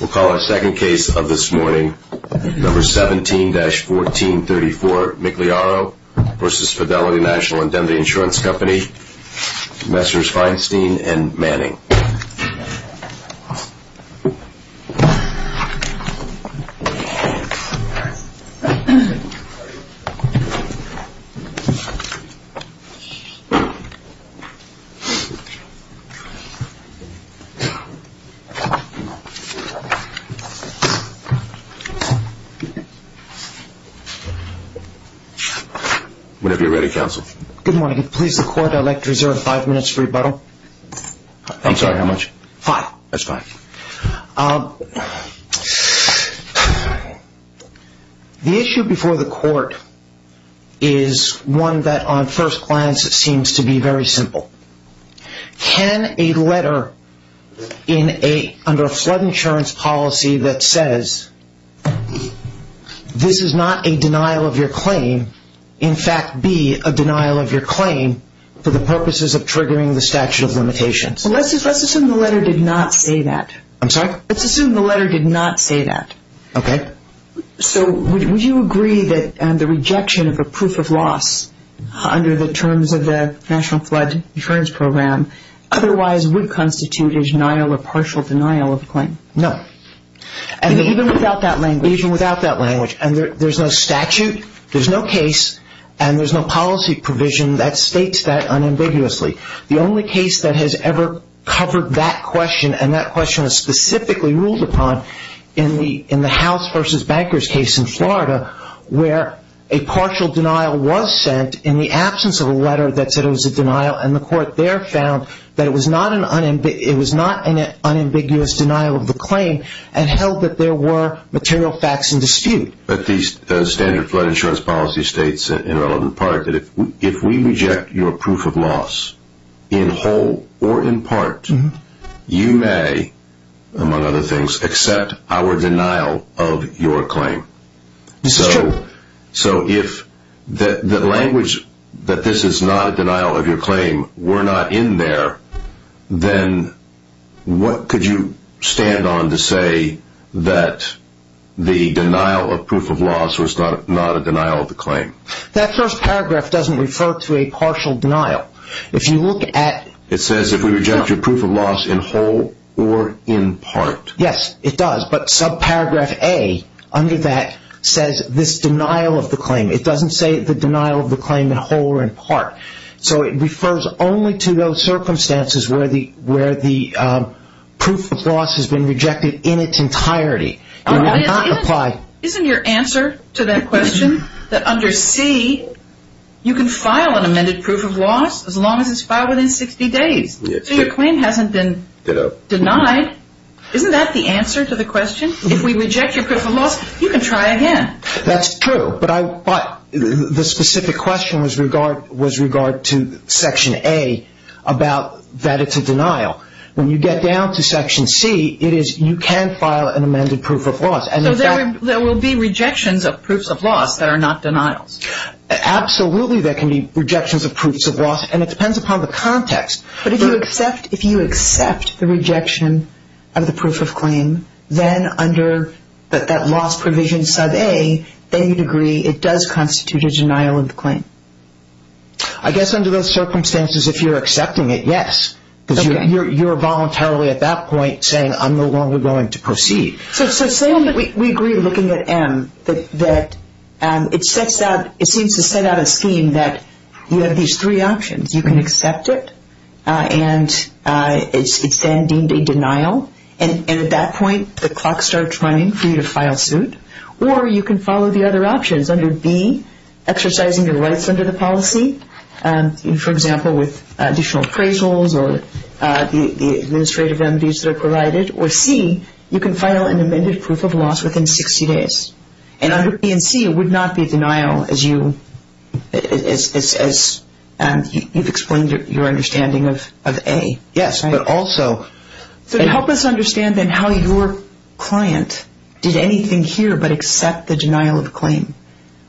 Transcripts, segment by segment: We'll call our second case of this morning, number 17-1434, Migliaro v. Fidelity National Indemnity Insurance Company, Messrs. Feinstein and Manning. Whenever you're ready, counsel. Good morning. Please, the court, I'd like to reserve five minutes for rebuttal. I'm sorry, how much? Five. That's fine. The issue before the court is one that on first glance seems to be very simple. Can a letter under a flood insurance policy that says, this is not a denial of your claim, in fact be a denial of your claim for the purposes of triggering the statute of limitations? Let's assume the letter did not say that. I'm sorry? Let's assume the letter did not say that. Okay. So would you agree that the rejection of a proof of loss under the terms of the National Flood Insurance Program otherwise would constitute a denial or partial denial of a claim? No. Even without that language? Even without that language. And there's no statute, there's no case, and there's no policy provision that states that unambiguously. The only case that has ever covered that question, and that question is specifically ruled upon in the House versus Bankers case in Florida, where a partial denial was sent in the absence of a letter that said it was a denial, and the court there found that it was not an unambiguous denial of the claim and held that there were material facts in dispute. But the standard flood insurance policy states, in relevant part, that if we reject your proof of loss in whole or in part, you may, among other things, accept our denial of your claim. This is true. So if the language that this is not a denial of your claim were not in there, then what could you stand on to say that the denial of proof of loss was not a denial of the claim? That first paragraph doesn't refer to a partial denial. If you look at… It says if we reject your proof of loss in whole or in part. Yes, it does, but subparagraph A under that says this denial of the claim. It doesn't say the denial of the claim in whole or in part. So it refers only to those circumstances where the proof of loss has been rejected in its entirety. It would not apply… Isn't your answer to that question that under C, you can file an amended proof of loss as long as it's filed within 60 days? So your claim hasn't been denied. Isn't that the answer to the question? If we reject your proof of loss, you can try again. That's true, but the specific question was regard to Section A about that it's a denial. When you get down to Section C, it is you can file an amended proof of loss. So there will be rejections of proofs of loss that are not denials. Absolutely, there can be rejections of proofs of loss, and it depends upon the context. But if you accept the rejection of the proof of claim, then under that loss provision sub-A, then you'd agree it does constitute a denial of the claim. I guess under those circumstances, if you're accepting it, yes, because you're voluntarily at that point saying I'm no longer going to proceed. So say we agree looking at M that it seems to set out a scheme that you have these three options. You can accept it, and it's then deemed a denial. And at that point, the clock starts running for you to file suit. Or you can follow the other options under B, exercising your rights under the policy, for example, with additional appraisals or the administrative remedies that are provided. Or C, you can file an amended proof of loss within 60 days. And under B and C, it would not be denial as you've explained your understanding of A. Yes, but also – So help us understand then how your client did anything here but accept the denial of the claim.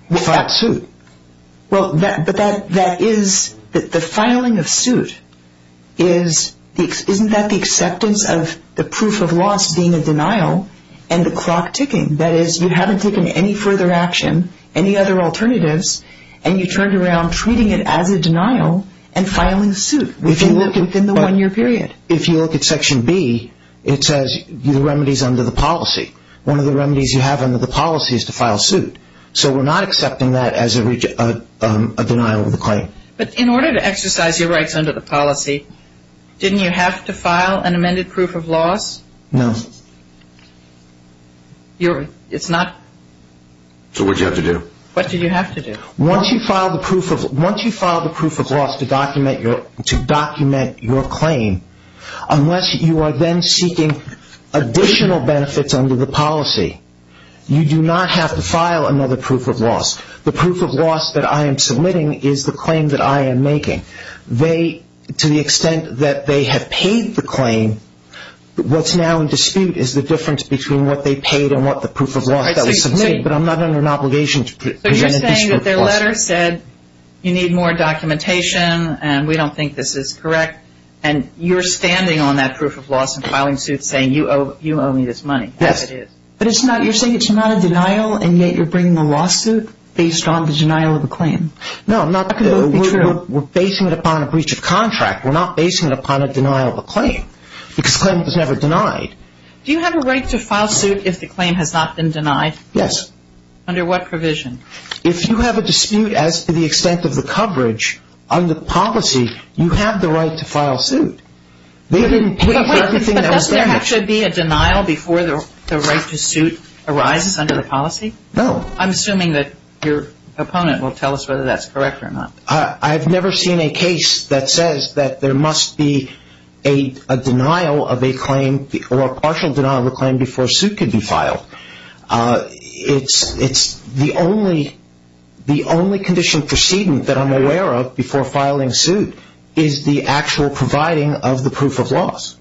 We filed suit. Well, but that is – the filing of suit is – isn't that the acceptance of the proof of loss being a denial and the clock ticking? That is, you haven't taken any further action, any other alternatives, and you turned around treating it as a denial and filing suit within the one-year period. If you look at Section B, it says remedies under the policy. One of the remedies you have under the policy is to file suit. So we're not accepting that as a denial of the claim. But in order to exercise your rights under the policy, didn't you have to file an amended proof of loss? No. It's not – So what did you have to do? What did you have to do? Once you file the proof of loss to document your claim, unless you are then seeking additional benefits under the policy, you do not have to file another proof of loss. The proof of loss that I am submitting is the claim that I am making. To the extent that they have paid the claim, what's now in dispute is the difference between what they paid and what the proof of loss that was submitted. But I'm not under an obligation to present additional costs. But you're saying that their letter said you need more documentation, and we don't think this is correct, and you're standing on that proof of loss and filing suit saying you owe me this money. Yes. That's what it is. But it's not – you're saying it's not a denial, and yet you're bringing a lawsuit based on the denial of the claim. No, I'm not – That could well be true. We're basing it upon a breach of contract. We're not basing it upon a denial of a claim because a claim was never denied. Do you have a right to file suit if the claim has not been denied? Yes. Under what provision? If you have a dispute as to the extent of the coverage under policy, you have the right to file suit. They didn't pay for everything that was there. But wait, but doesn't there actually be a denial before the right to suit arises under the policy? No. I'm assuming that your opponent will tell us whether that's correct or not. I've never seen a case that says that there must be a denial of a claim or a partial denial of a claim before a suit can be filed. It's the only condition precedent that I'm aware of before filing suit is the actual providing of the proof of loss.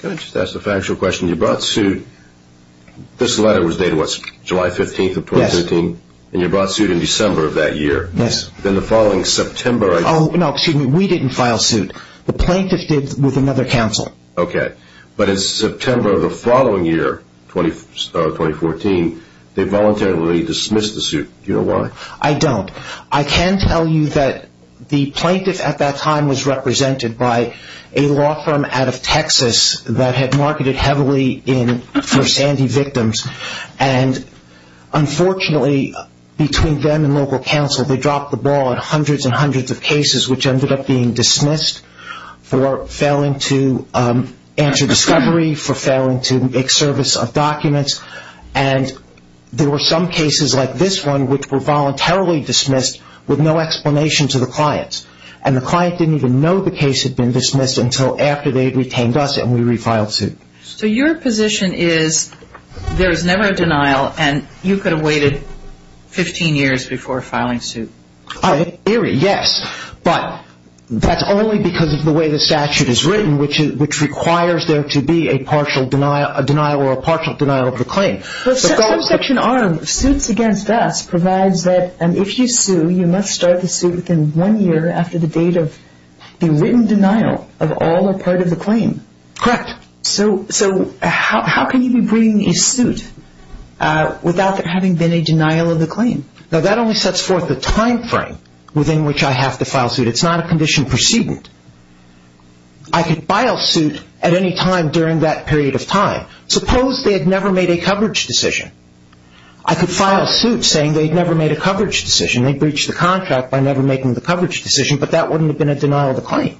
Can I just ask a factual question? When you brought suit, this letter was dated, what, July 15th of 2015? Yes. And you brought suit in December of that year. Yes. Then the following September. Oh, no, excuse me. We didn't file suit. The plaintiff did with another counsel. Okay. But in September of the following year, 2014, they voluntarily dismissed the suit. Do you know why? I don't. I can tell you that the plaintiff at that time was represented by a law firm out of Texas that had marketed heavily for Sandy victims, and unfortunately, between them and local counsel, they dropped the ball on hundreds and hundreds of cases which ended up being dismissed for failing to answer discovery, and there were some cases like this one which were voluntarily dismissed with no explanation to the clients, and the client didn't even know the case had been dismissed until after they had retained us and we refiled suit. So your position is there is never a denial and you could have waited 15 years before filing suit? Eerie, yes, but that's only because of the way the statute is written, which requires there to be a partial denial or a partial denial of the claim. Section R, suits against us, provides that if you sue, you must start the suit within one year after the date of the written denial of all or part of the claim. Correct. So how can you be bringing a suit without there having been a denial of the claim? Now that only sets forth the time frame within which I have to file suit. It's not a condition precedent. I could file suit at any time during that period of time. Suppose they had never made a coverage decision. I could file suit saying they had never made a coverage decision. They breached the contract by never making the coverage decision, but that wouldn't have been a denial of the claim.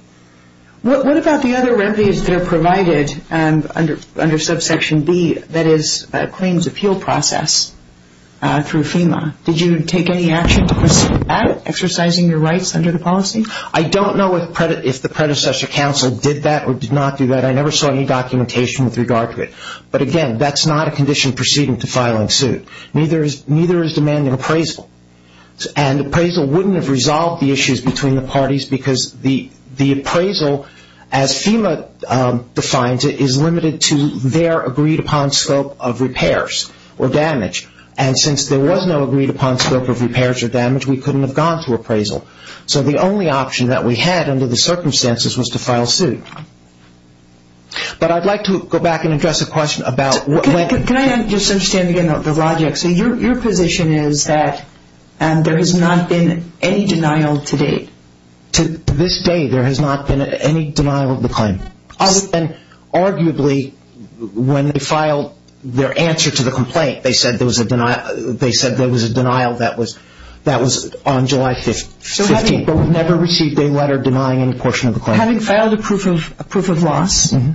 What about the other remedies that are provided under subsection B, that is, claims appeal process through FEMA? Did you take any action to proceed with that, exercising your rights under the policy? I don't know if the predecessor counsel did that or did not do that. I never saw any documentation with regard to it. But, again, that's not a condition precedent to filing suit. Neither is demanding appraisal, and appraisal wouldn't have resolved the issues between the parties because the appraisal, as FEMA defines it, is limited to their agreed-upon scope of repairs or damage. And since there was no agreed-upon scope of repairs or damage, we couldn't have gone through appraisal. So the only option that we had under the circumstances was to file suit. But I'd like to go back and address a question about what went into it. Can I just understand again the logic? So your position is that there has not been any denial to date? To this day, there has not been any denial of the claim. Arguably, when they filed their answer to the complaint, they said there was a denial that was on July 15th. But we've never received a letter denying any portion of the claim. Having filed a proof of loss and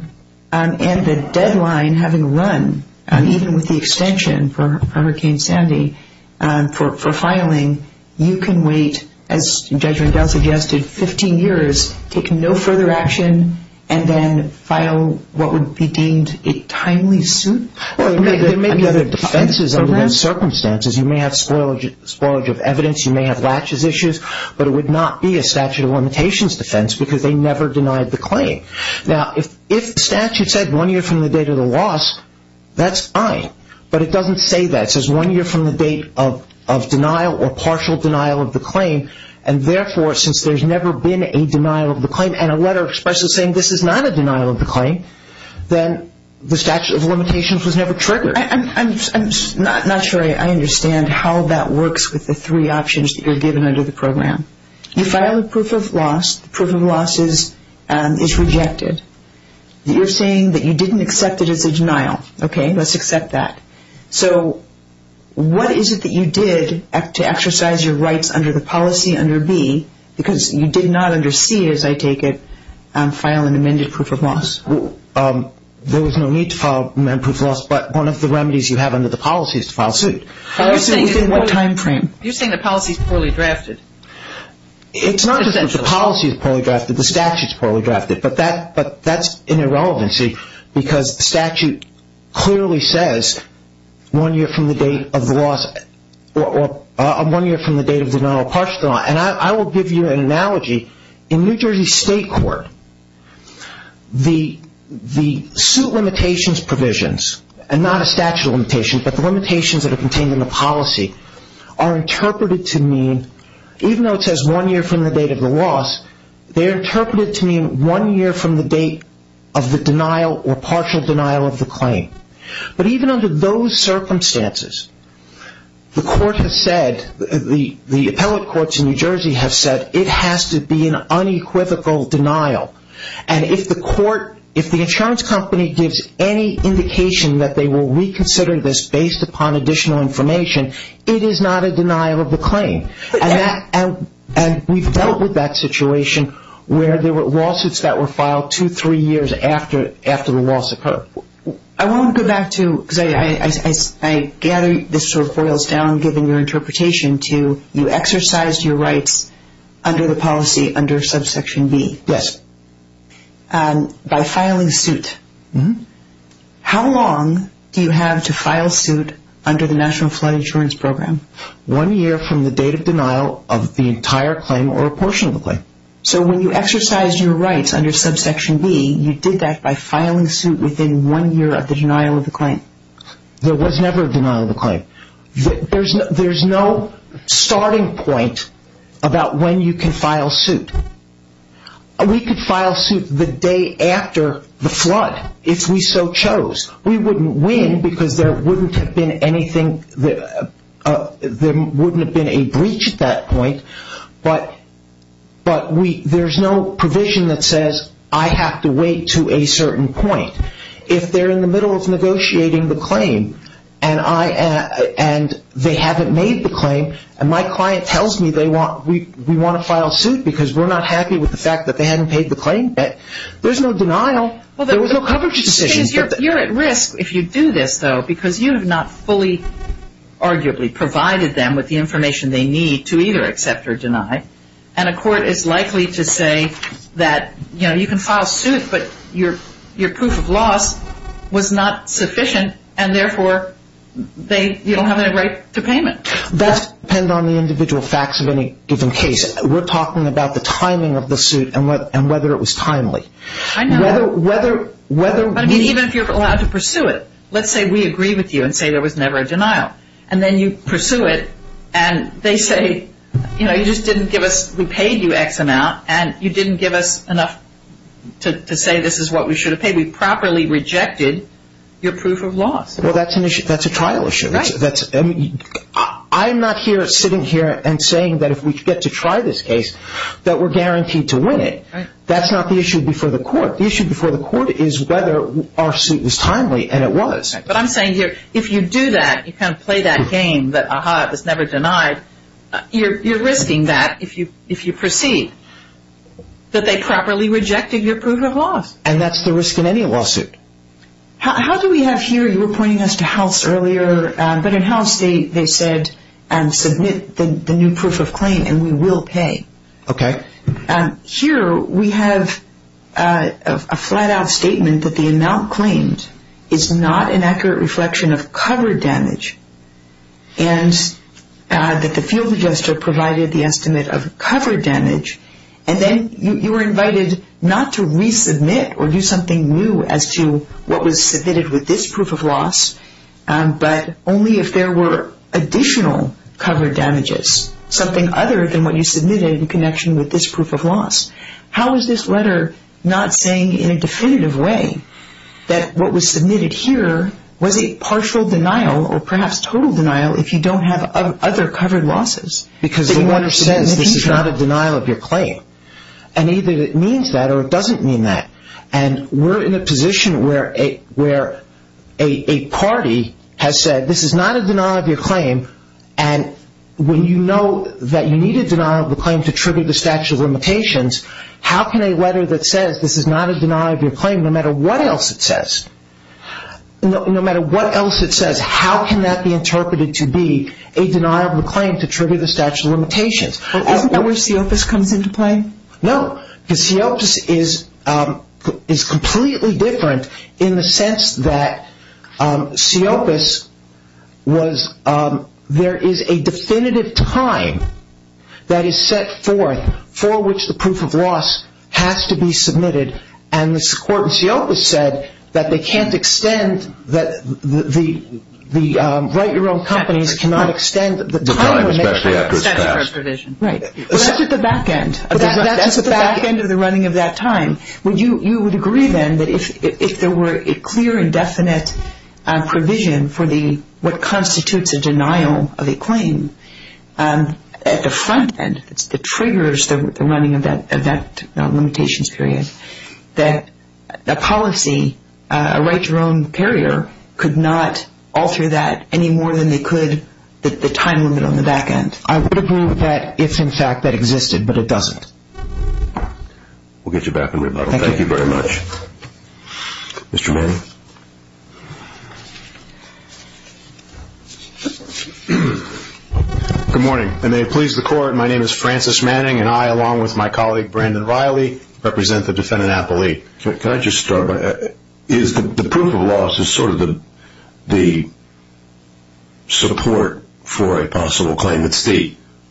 the deadline having run, even with the extension for Hurricane Sandy, for filing, you can wait, as Judge Rendell suggested, 15 years, take no further action, and then file what would be deemed a timely suit? Well, there may be other defenses under those circumstances. You may have spoilage of evidence. You may have latches issues. But it would not be a statute of limitations defense because they never denied the claim. Now, if the statute said one year from the date of the loss, that's fine. But it doesn't say that. It says one year from the date of denial or partial denial of the claim. And therefore, since there's never been a denial of the claim, and a letter expressly saying this is not a denial of the claim, then the statute of limitations was never triggered. I'm not sure I understand how that works with the three options that you're given under the program. You file a proof of loss. The proof of loss is rejected. You're saying that you didn't accept it as a denial. Okay, let's accept that. So what is it that you did to exercise your rights under the policy under B, because you did not under C, as I take it, file an amended proof of loss? There was no need to file an amended proof of loss. But one of the remedies you have under the policy is to file suit. Within what time frame? You're saying the policy is poorly drafted. It's not just that the policy is poorly drafted. The statute is poorly drafted. But that's an irrelevancy because the statute clearly says one year from the date of the loss or one year from the date of denial or partial denial. And I will give you an analogy. In New Jersey State Court, the suit limitations provisions, and not a statute of limitations, but the limitations that are contained in the policy, are interpreted to mean, even though it says one year from the date of the loss, they are interpreted to mean one year from the date of the denial or partial denial of the claim. But even under those circumstances, the court has said, the appellate courts in New Jersey have said, it has to be an unequivocal denial. And if the insurance company gives any indication that they will reconsider this based upon additional information, it is not a denial of the claim. And we've dealt with that situation where there were lawsuits that were filed two, three years after the loss occurred. I want to go back to, because I gather this sort of boils down, given your interpretation, to you exercised your rights under the policy under subsection B. Yes. By filing suit. Mm-hmm. How long do you have to file suit under the National Flood Insurance Program? One year from the date of denial of the entire claim or a portion of the claim. So when you exercised your rights under subsection B, you did that by filing suit within one year of the denial of the claim. There was never a denial of the claim. There's no starting point about when you can file suit. We could file suit the day after the flood if we so chose. We wouldn't win because there wouldn't have been a breach at that point. But there's no provision that says I have to wait to a certain point. If they're in the middle of negotiating the claim and they haven't made the claim and my client tells me we want to file suit because we're not happy with the fact that they haven't paid the claim yet, there's no denial. There was no coverage decision. You're at risk if you do this, though, because you have not fully arguably provided them with the information they need to either accept or deny, and a court is likely to say that you can file suit but your proof of loss was not sufficient and therefore you don't have any right to payment. That depends on the individual facts of any given case. We're talking about the timing of the suit and whether it was timely. I know. Even if you're allowed to pursue it. Let's say we agree with you and say there was never a denial, and then you pursue it and they say you just didn't give us, we paid you X amount and you didn't give us enough to say this is what we should have paid. We properly rejected your proof of loss. Well, that's a trial issue. I'm not sitting here and saying that if we get to try this case that we're guaranteed to win it. That's not the issue before the court. The issue before the court is whether our suit was timely and it was. But I'm saying here if you do that, you kind of play that game that ah-ha, it was never denied, you're risking that if you proceed, that they properly rejected your proof of loss. And that's the risk in any lawsuit. How do we have here, you were pointing us to House earlier, but in House they said submit the new proof of claim and we will pay. Okay. Here we have a flat-out statement that the amount claimed is not an accurate reflection of covered damage and that the field adjuster provided the estimate of covered damage. And then you were invited not to resubmit or do something new as to what was submitted with this proof of loss, but only if there were additional covered damages, something other than what you submitted in connection with this proof of loss. How is this letter not saying in a definitive way that what was submitted here was a partial denial or perhaps total denial if you don't have other covered losses? Because the letter says this is not a denial of your claim. And either it means that or it doesn't mean that. And we're in a position where a party has said this is not a denial of your claim and when you know that you need a denial of the claim to trigger the statute of limitations, how can a letter that says this is not a denial of your claim no matter what else it says, no matter what else it says, how can that be interpreted to be a denial of the claim to trigger the statute of limitations? Isn't that where CEOPAS comes into play? No. Because CEOPAS is completely different in the sense that CEOPAS was, there is a definitive time that is set forth for which the proof of loss has to be submitted and the court in CEOPAS said that they can't extend, that the write your own companies cannot extend the time. The time especially after it's passed. Right. That's at the back end. That's at the back end of the running of that time. Would you agree then that if there were a clear and definite provision for what constitutes a denial of a claim at the front end, that triggers the running of that limitations period, that a policy, a write your own carrier, could not alter that any more than they could the time limit on the back end? I would approve that if in fact that existed, but it doesn't. We'll get you back in rebuttal. Thank you. Thank you very much. Mr. Manning. Good morning. And may it please the court, my name is Francis Manning and I along with my colleague Brandon Riley represent the defendant appellee. Can I just start by, the proof of loss is sort of the support for a possible claim. It's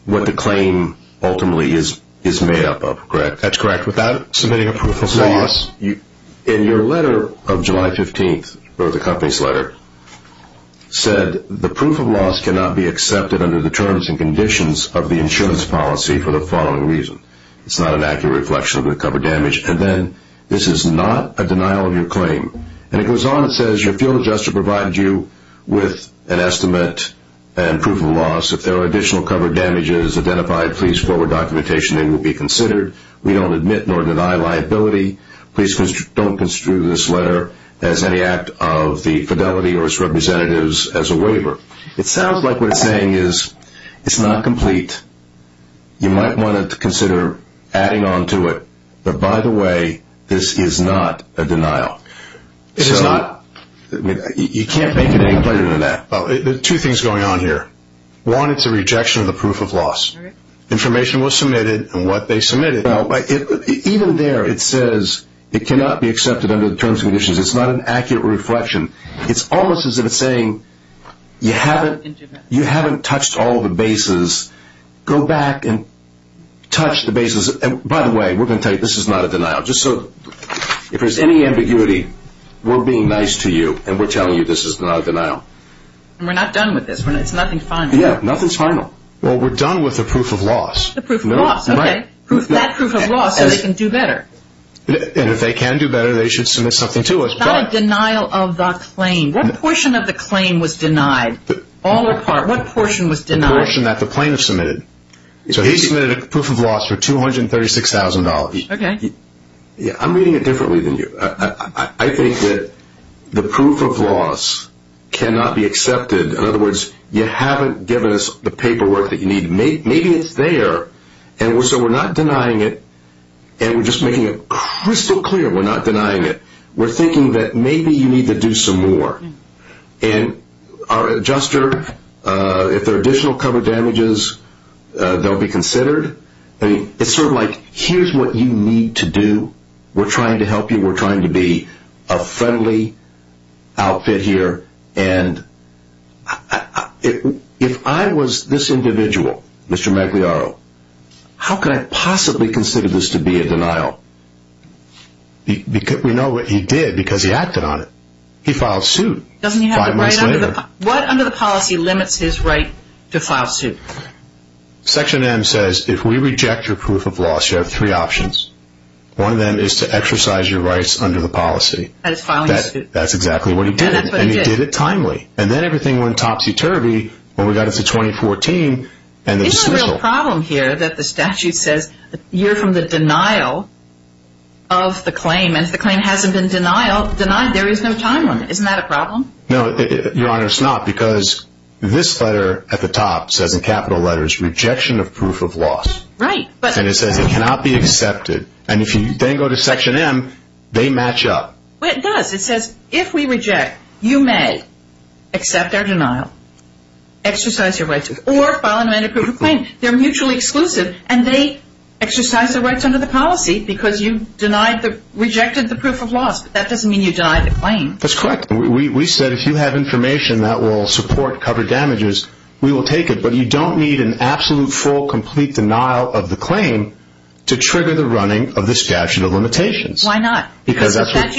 what the claim ultimately is made up of, correct? That's correct. Without submitting a proof of loss. In your letter of July 15th, wrote the company's letter, said the proof of loss cannot be accepted under the terms and conditions of the insurance policy for the following reason. It's not an accurate reflection of the cover damage. And then this is not a denial of your claim. And it goes on and says, your field of justice provides you with an estimate and proof of loss. If there are additional cover damages identified, please forward documentation that will be considered. We don't admit nor deny liability. Please don't construe this letter as any act of the fidelity or its representatives as a waiver. It sounds like what it's saying is it's not complete. You might want to consider adding on to it. But, by the way, this is not a denial. It is not? You can't make it any clearer than that. There are two things going on here. One, it's a rejection of the proof of loss. Information was submitted, and what they submitted. Even there it says it cannot be accepted under the terms and conditions. It's not an accurate reflection. It's almost as if it's saying you haven't touched all the bases. Go back and touch the bases. By the way, we're going to tell you this is not a denial. If there's any ambiguity, we're being nice to you, and we're telling you this is not a denial. We're not done with this. It's nothing final. Yeah, nothing's final. Well, we're done with the proof of loss. The proof of loss. Okay, that proof of loss so they can do better. And if they can do better, they should submit something to us. It's not a denial of the claim. What portion of the claim was denied? All or part. What portion was denied? The portion that the plaintiff submitted. So he submitted a proof of loss for $236,000. Okay. Yeah, I'm reading it differently than you. I think that the proof of loss cannot be accepted. In other words, you haven't given us the paperwork that you need. Maybe it's there, and so we're not denying it, and we're just making it crystal clear we're not denying it. We're thinking that maybe you need to do some more. And our adjuster, if there are additional cover damages, they'll be considered. It's sort of like here's what you need to do. We're trying to help you. We're trying to be a friendly outfit here. And if I was this individual, Mr. Magliaro, how could I possibly consider this to be a denial? We know what he did because he acted on it. He filed suit five months later. What under the policy limits his right to file suit? Section M says if we reject your proof of loss, you have three options. One of them is to exercise your rights under the policy. That is filing suit. That's exactly what he did, and he did it timely. And then everything went topsy-turvy when we got it to 2014. Isn't the real problem here that the statute says you're from the denial of the claim, and if the claim hasn't been denied, there is no time limit. Isn't that a problem? No, Your Honor, it's not because this letter at the top says in capital letters, Rejection of Proof of Loss. Right. And it says it cannot be accepted. And if you then go to Section M, they match up. It does. It says if we reject, you may accept our denial, exercise your rights, or file an amended proof of claim. They're mutually exclusive, and they exercise their rights under the policy because you rejected the proof of loss, but that doesn't mean you denied the claim. That's correct. We said if you have information that will support cover damages, we will take it, but you don't need an absolute, full, complete denial of the claim to trigger the running of the statute of limitations. Why not? Because that's what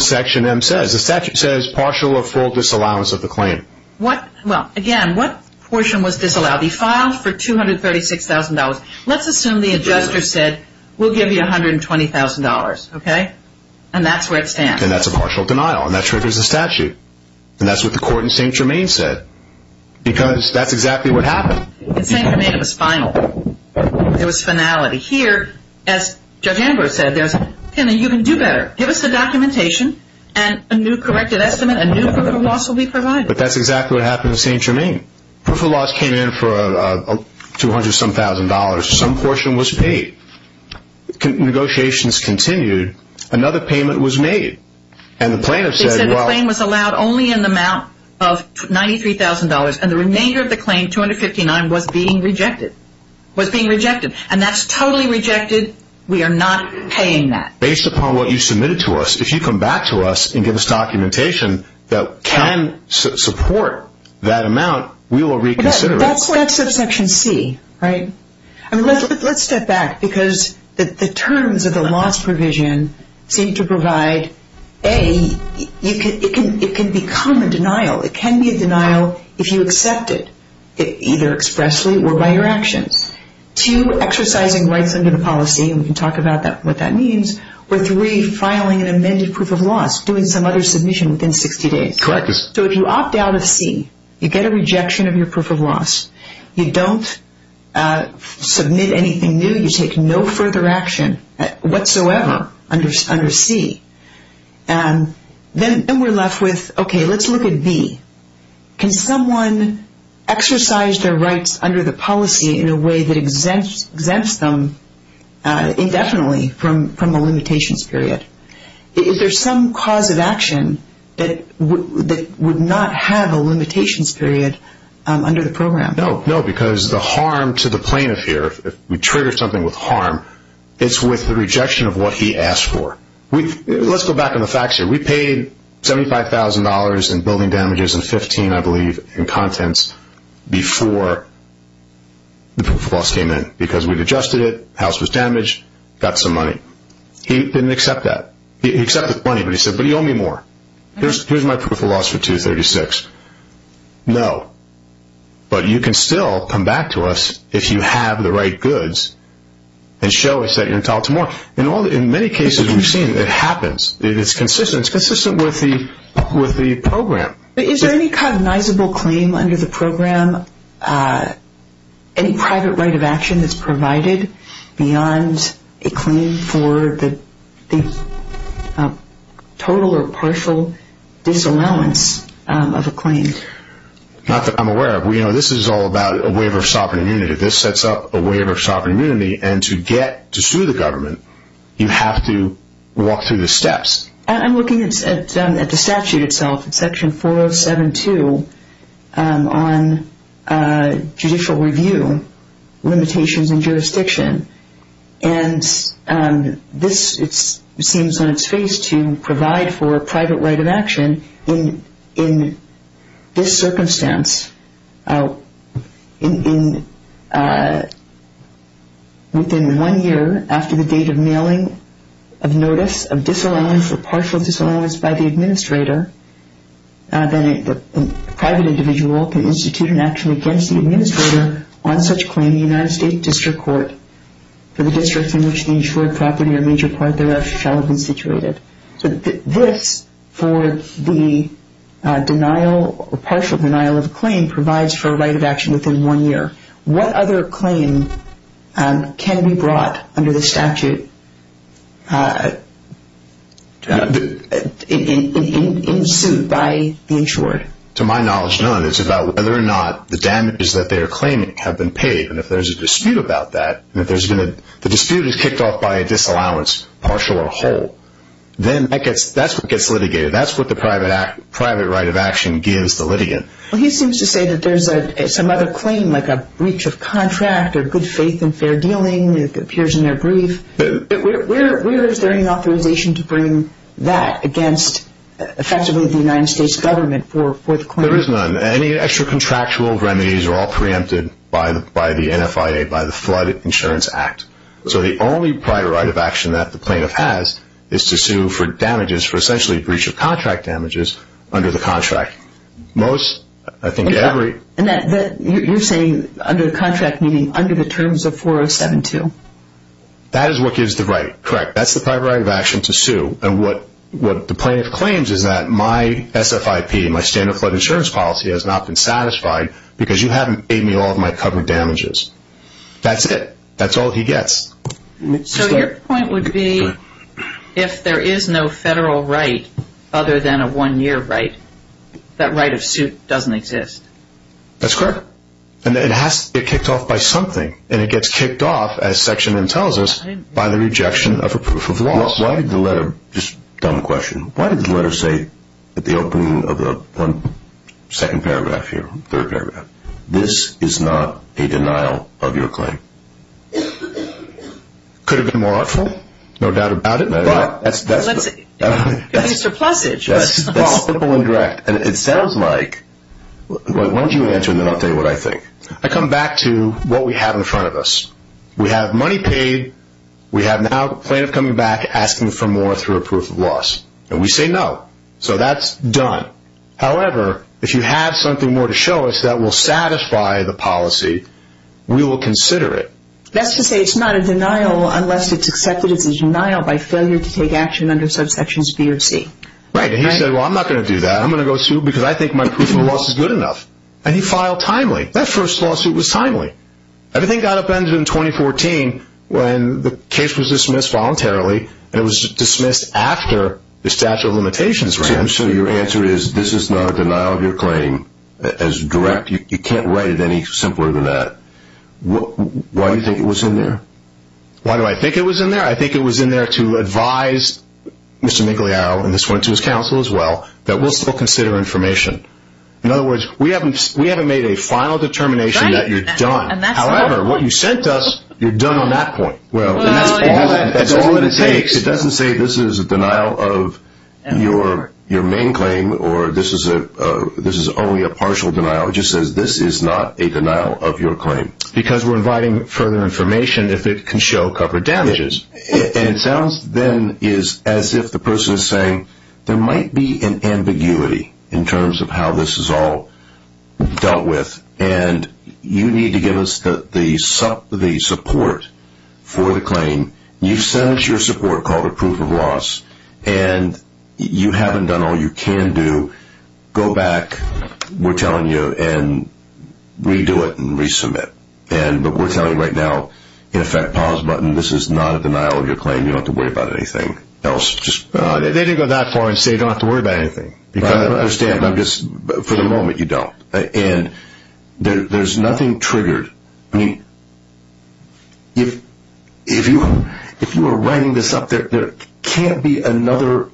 Section M says. The statute says partial or full disallowance of the claim. Well, again, what portion was disallowed? He filed for $236,000. Let's assume the adjuster said, we'll give you $120,000, okay? And that's where it stands. And that's a partial denial, and that triggers the statute. And that's what the court in St. Germain said because that's exactly what happened. In St. Germain, it was final. It was finality. Here, as Judge Amber said, you can do better. Give us the documentation, and a new corrected estimate, a new proof of loss will be provided. But that's exactly what happened in St. Germain. Proof of loss came in for $200-some-thousand. Some portion was paid. Negotiations continued. Another payment was made. And the plaintiff said, well. They said the claim was allowed only in the amount of $93,000, and the remainder of the claim, $259,000, was being rejected. It was being rejected. And that's totally rejected. We are not paying that. Based upon what you submitted to us, if you come back to us and give us documentation that can support that amount, we will reconsider it. That's subsection C, right? Let's step back because the terms of the loss provision seem to provide, A, it can become a denial. It can be a denial if you accept it, either expressly or by your actions. Two, exercising rights under the policy, and we can talk about what that means. Or three, filing an amended proof of loss, doing some other submission within 60 days. Correct. So if you opt out of C, you get a rejection of your proof of loss. You don't submit anything new. You take no further action whatsoever under C. Then we're left with, okay, let's look at B. Can someone exercise their rights under the policy in a way that exempts them indefinitely from a limitations period? Is there some cause of action that would not have a limitations period under the program? No, because the harm to the plaintiff here, if we trigger something with harm, it's with the rejection of what he asked for. Let's go back on the facts here. We paid $75,000 in building damages and $15,000, I believe, in contents before the proof of loss came in because we'd adjusted it, the house was damaged, got some money. He didn't accept that. He accepted the money, but he said, but you owe me more. Here's my proof of loss for $236,000. No, but you can still come back to us if you have the right goods and show us that you're entitled to more. In many cases we've seen it happens. It's consistent. It's consistent with the program. Is there any cognizable claim under the program, any private right of action that's provided beyond a claim for the total or partial disallowance of a claim? Not that I'm aware of. This is all about a waiver of sovereign immunity. If this sets up a waiver of sovereign immunity and to get to sue the government, you have to walk through the steps. I'm looking at the statute itself, section 4072, on judicial review, limitations and jurisdiction. And this seems on its face to provide for a private right of action in this circumstance. Within one year after the date of mailing of notice of disallowance or partial disallowance by the administrator, then a private individual can institute an action against the administrator on such claim in the United States District Court for the district in which the insured property or major part thereof shall have been situated. So this for the denial or partial denial of a claim provides for a right of action within one year. What other claim can be brought under the statute in suit by the insured? To my knowledge, none. It's about whether or not the damages that they are claiming have been paid. And if there's a dispute about that, the dispute is kicked off by a disallowance, partial or whole. Then that's what gets litigated. That's what the private right of action gives the litigant. Well, he seems to say that there's some other claim like a breach of contract or good faith in fair dealing. It appears in their brief. Where is there any authorization to bring that against effectively the United States government for the claim? There is none. Any extra contractual remedies are all preempted by the NFIA, by the Flood Insurance Act. So the only private right of action that the plaintiff has is to sue for damages, for essentially breach of contract damages, under the contract. You're saying under the contract, meaning under the terms of 4072? That is what gives the right. Correct. That's the private right of action to sue. And what the plaintiff claims is that my SFIP, my standard flood insurance policy, has not been satisfied because you haven't paid me all of my covered damages. That's it. That's all he gets. So your point would be if there is no federal right other than a one-year right, that right of suit doesn't exist. That's correct. And it has to be kicked off by something. And it gets kicked off, as Section N tells us, by the rejection of a proof of loss. Why did the letter, just a dumb question, why did the letter say at the opening of the second paragraph here, third paragraph, this is not a denial of your claim? Could have been more artful. No doubt about it. Mr. Plussage. That's simple and direct. And it sounds like, why don't you answer and then I'll tell you what I think. I come back to what we have in front of us. We have money paid. We have now a plaintiff coming back asking for more through a proof of loss. And we say no. So that's done. However, if you have something more to show us that will satisfy the policy, we will consider it. That's to say it's not a denial unless it's accepted as a denial by failure to take action under subsections B or C. Right. And he said, well, I'm not going to do that. I'm going to go sue because I think my proof of loss is good enough. And he filed timely. That first lawsuit was timely. Everything got upended in 2014 when the case was dismissed voluntarily, and it was dismissed after the statute of limitations ran. So your answer is this is not a denial of your claim as direct. You can't write it any simpler than that. Why do you think it was in there? Why do I think it was in there? I think it was in there to advise Mr. Migliaio, and this went to his counsel as well, that we'll still consider information. In other words, we haven't made a final determination that you're done. However, what you sent us, you're done on that point. Well, that's all it takes. It doesn't say this is a denial of your main claim or this is only a partial denial. It just says this is not a denial of your claim. Because we're inviting further information if it can show covered damages. And it sounds then as if the person is saying there might be an ambiguity in terms of how this is all dealt with, and you need to give us the support for the claim. You've sent us your support called a proof of loss, and you haven't done all you can do. Go back, we're telling you, and redo it and resubmit. But we're telling you right now, in effect, pause the button. This is not a denial of your claim. You don't have to worry about anything else. They didn't go that far and say you don't have to worry about anything. I understand, but for the moment you don't. And there's nothing triggered. If you are writing this up, there can't be another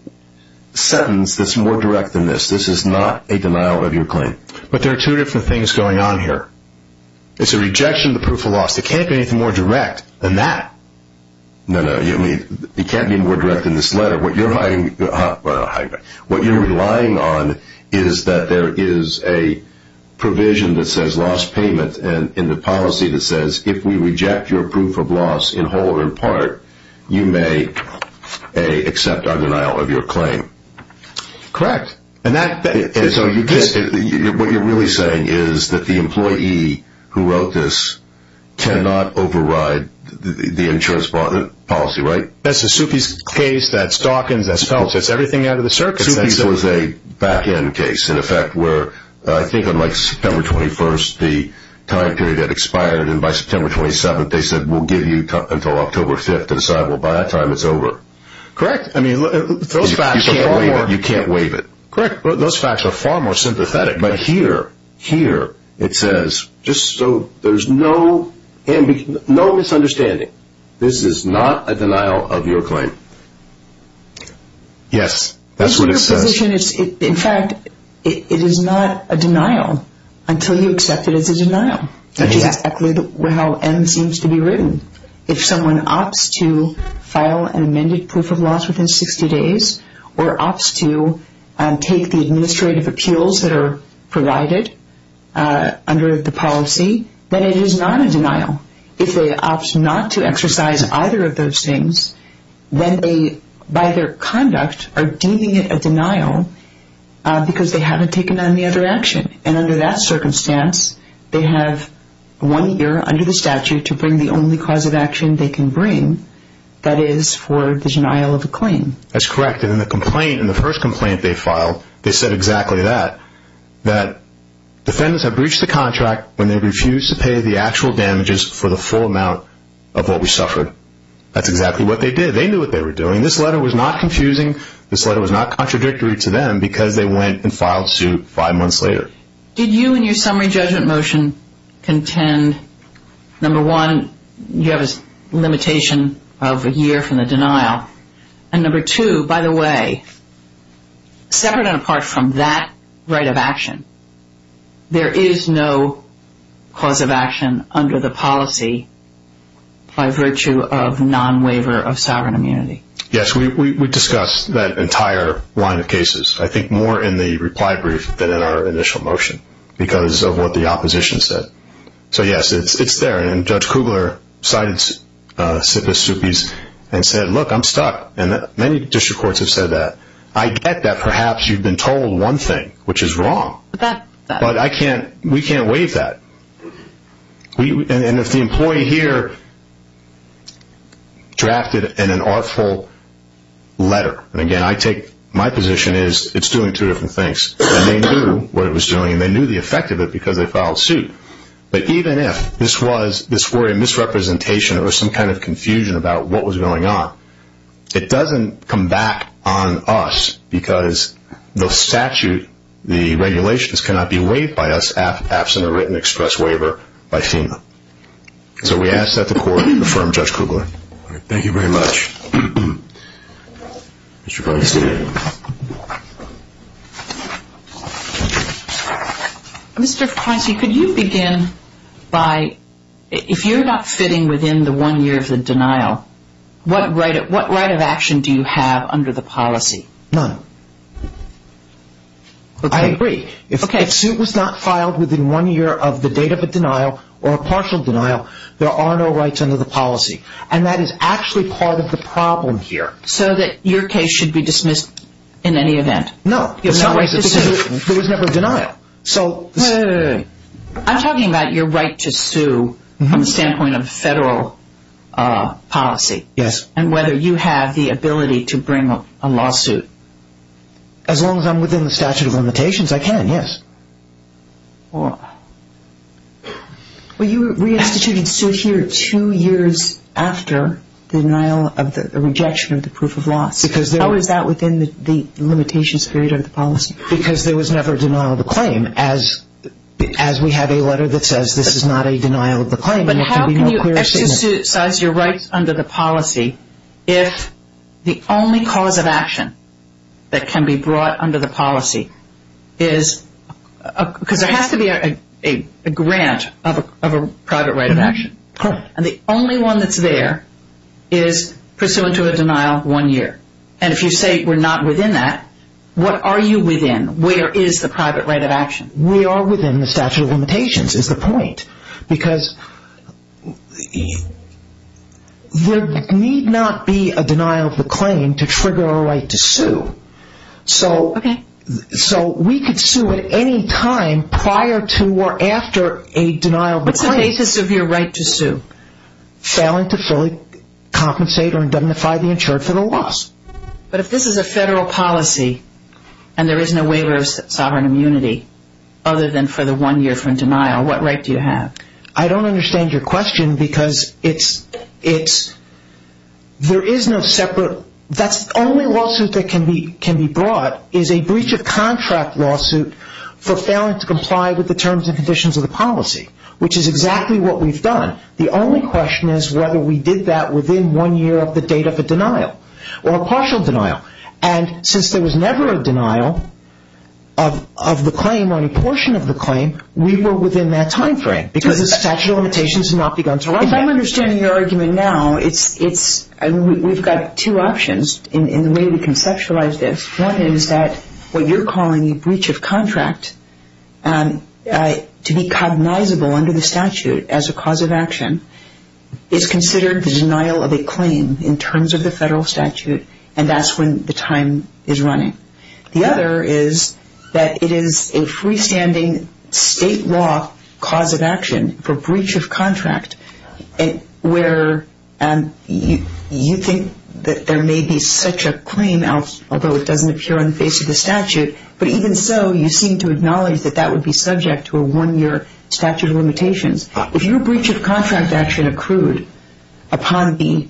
sentence that's more direct than this. This is not a denial of your claim. But there are two different things going on here. It's a rejection of the proof of loss. There can't be anything more direct than that. No, no, it can't be more direct than this letter. What you're relying on is that there is a provision that says loss payment and the policy that says if we reject your proof of loss in whole or in part, you may accept our denial of your claim. Correct. What you're really saying is that the employee who wrote this cannot override the insurance policy, right? That's a Sufis case. That's Dawkins. That's Phelps. That's everything out of the circus. Sufis was a back-end case, in effect, where I think on, like, September 21st, the time period had expired, and by September 27th they said we'll give you until October 5th, and said, well, by that time it's over. Correct. I mean, those facts are far more. You can't waive it. Correct. Those facts are far more sympathetic. But here, here, it says just so there's no misunderstanding, this is not a denial of your claim. Yes, that's what it says. In fact, it is not a denial until you accept it as a denial, which is exactly how M seems to be written. If someone opts to file an amended proof of loss within 60 days or opts to take the administrative appeals that are provided under the policy, then it is not a denial. If they opt not to exercise either of those things, then they, by their conduct, are deeming it a denial because they haven't taken any other action. And under that circumstance, they have one year under the statute to bring the only cause of action they can bring, that is, for the denial of a claim. That's correct. And in the complaint, in the first complaint they filed, they said exactly that, that defendants have breached the contract when they refuse to pay the actual damages for the full amount of what we suffered. That's exactly what they did. They knew what they were doing. This letter was not confusing. This letter was not contradictory to them because they went and filed suit five months later. Did you, in your summary judgment motion, contend, number one, you have a limitation of a year from the denial, and number two, by the way, separate and apart from that right of action, there is no cause of action under the policy by virtue of non-waiver of sovereign immunity? Yes. We discussed that entire line of cases, I think, more in the reply brief than in our initial motion because of what the opposition said. So, yes, it's there. And Judge Kugler cited Sipis Zupis and said, look, I'm stuck. And many district courts have said that. I get that perhaps you've been told one thing, which is wrong, but we can't waive that. And if the employee here drafted an unlawful letter, and, again, I take my position is it's doing two different things. And they knew what it was doing, and they knew the effect of it because they filed suit. But even if this were a misrepresentation or some kind of confusion about what was going on, it doesn't come back on us because the statute, the regulations, cannot be waived by us absent a written express waiver by FEMA. So we ask that the court affirm Judge Kugler. Thank you very much. Mr. Feinstein. Mr. Feinstein, could you begin by, if you're not fitting within the one year of the denial, what right of action do you have under the policy? None. I agree. If a suit was not filed within one year of the date of a denial or a partial denial, there are no rights under the policy. And that is actually part of the problem here. So that your case should be dismissed in any event? No, because there was never a denial. Wait, wait, wait. I'm talking about your right to sue from the standpoint of federal policy. Yes. And whether you have the ability to bring a lawsuit. As long as I'm within the statute of limitations, I can, yes. Well, you re-instituted suit here two years after the denial of the rejection of the proof of loss. How is that within the limitations period of the policy? Because there was never a denial of the claim. As we have a letter that says this is not a denial of the claim, there can be no clear statement. But how can you exercise your rights under the policy if the only cause of action that can be brought under the policy is, because there has to be a grant of a private right of action. Correct. And the only one that's there is pursuant to a denial one year. And if you say we're not within that, what are you within? Where is the private right of action? We are within the statute of limitations is the point. Because there need not be a denial of the claim to trigger a right to sue. Okay. So we could sue at any time prior to or after a denial of the claim. What's the basis of your right to sue? Failing to fully compensate or indemnify the insured for the loss. But if this is a federal policy and there is no waiver of sovereign immunity, other than for the one year from denial, what right do you have? I don't understand your question because it's, there is no separate, that's the only lawsuit that can be brought is a breach of contract lawsuit for failing to comply with the terms and conditions of the policy. Which is exactly what we've done. The only question is whether we did that within one year of the date of a denial or a partial denial. And since there was never a denial of the claim or any portion of the claim, we were within that time frame because the statute of limitations had not begun to arrive. If I'm understanding your argument now, it's, we've got two options in the way we conceptualize this. One is that what you're calling a breach of contract to be cognizable under the statute as a cause of action is considered the denial of a claim in terms of the federal statute and that's when the time is running. The other is that it is a freestanding state law cause of action for breach of contract where you think that there may be such a claim, although it doesn't appear on the face of the statute, but even so you seem to acknowledge that that would be subject to a one-year statute of limitations. If your breach of contract action accrued upon the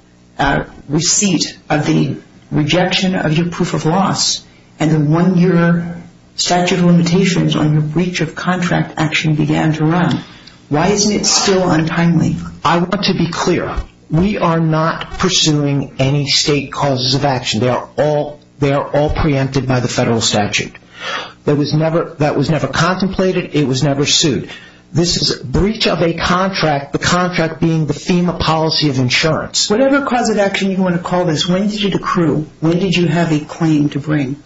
receipt of the rejection of your proof of loss and the one-year statute of limitations on your breach of contract action began to run, why isn't it still untimely? I want to be clear. We are not pursuing any state causes of action. They are all preempted by the federal statute. That was never contemplated. It was never sued. This is a breach of a contract, the contract being the FEMA policy of insurance. Whatever cause of action you want to call this, when did it accrue? When did you have a claim to bring?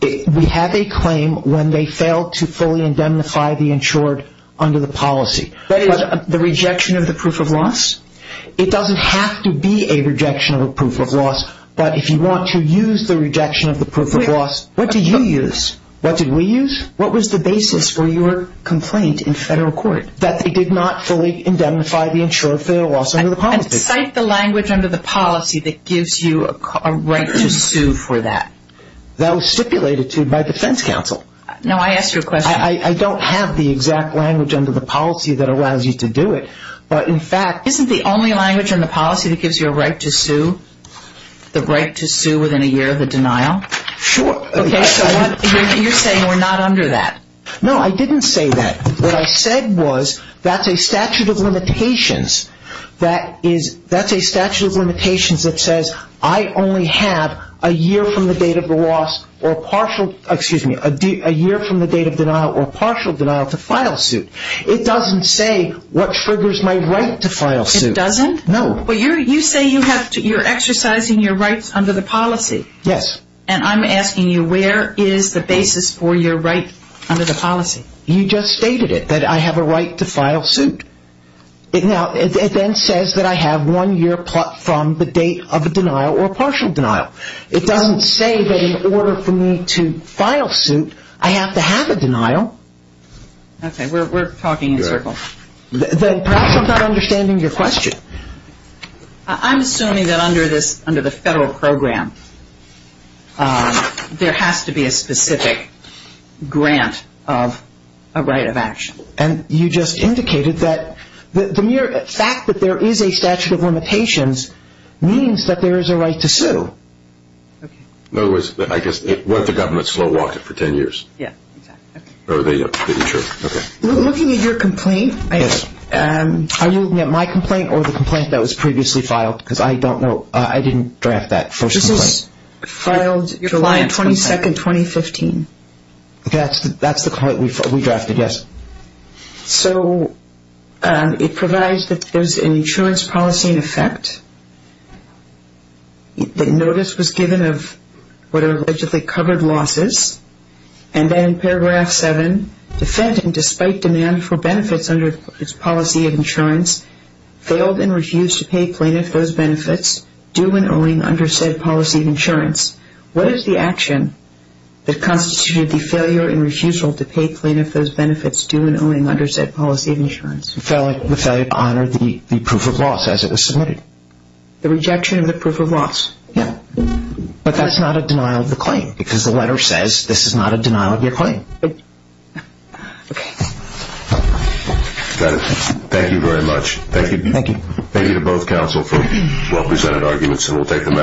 We have a claim when they failed to fully indemnify the insured under the policy. That is the rejection of the proof of loss? It doesn't have to be a rejection of a proof of loss, but if you want to use the rejection of the proof of loss, what do you use? What did we use? What was the basis for your complaint in federal court? That they did not fully indemnify the insured for their loss under the policy. And cite the language under the policy that gives you a right to sue for that. That was stipulated to by defense counsel. No, I asked you a question. I don't have the exact language under the policy that allows you to do it, but in fact... Isn't the only language in the policy that gives you a right to sue? The right to sue within a year of the denial? Sure. Okay, so you're saying we're not under that. No, I didn't say that. What I said was that's a statute of limitations. That's a statute of limitations that says I only have a year from the date of denial or partial denial to file suit. It doesn't say what triggers my right to file suit. It doesn't? No. But you say you're exercising your rights under the policy. Yes. And I'm asking you where is the basis for your right under the policy? You just stated it, that I have a right to file suit. Now, it then says that I have one year from the date of a denial or partial denial. It doesn't say that in order for me to file suit, I have to have a denial. Okay, we're talking in circles. Perhaps I'm not understanding your question. I'm assuming that under the federal program, there has to be a specific grant of a right of action. And you just indicated that the mere fact that there is a statute of limitations means that there is a right to sue. In other words, I guess, what if the government slow walked it for ten years? Yeah, exactly. Okay. Looking at your complaint. Yes. Are you looking at my complaint or the complaint that was previously filed? Because I don't know. I didn't draft that first complaint. This is filed July 22, 2015. That's the complaint we drafted, yes. So it provides that there's an insurance policy in effect. The notice was given of what are allegedly covered losses. And then in paragraph 7, defendant, despite demand for benefits under its policy of insurance, failed and refused to pay plaintiff those benefits due and owing under said policy of insurance. What is the action that constituted the failure and refusal to pay plaintiff those benefits due and owing under said policy of insurance? The failure to honor the proof of loss as it was submitted. The rejection of the proof of loss. Yeah. But that's not a denial of the claim because the letter says this is not a denial of your claim. Okay. Thank you very much. Thank you. Thank you. Thank you to both counsel for well-presented arguments. And we'll take them out.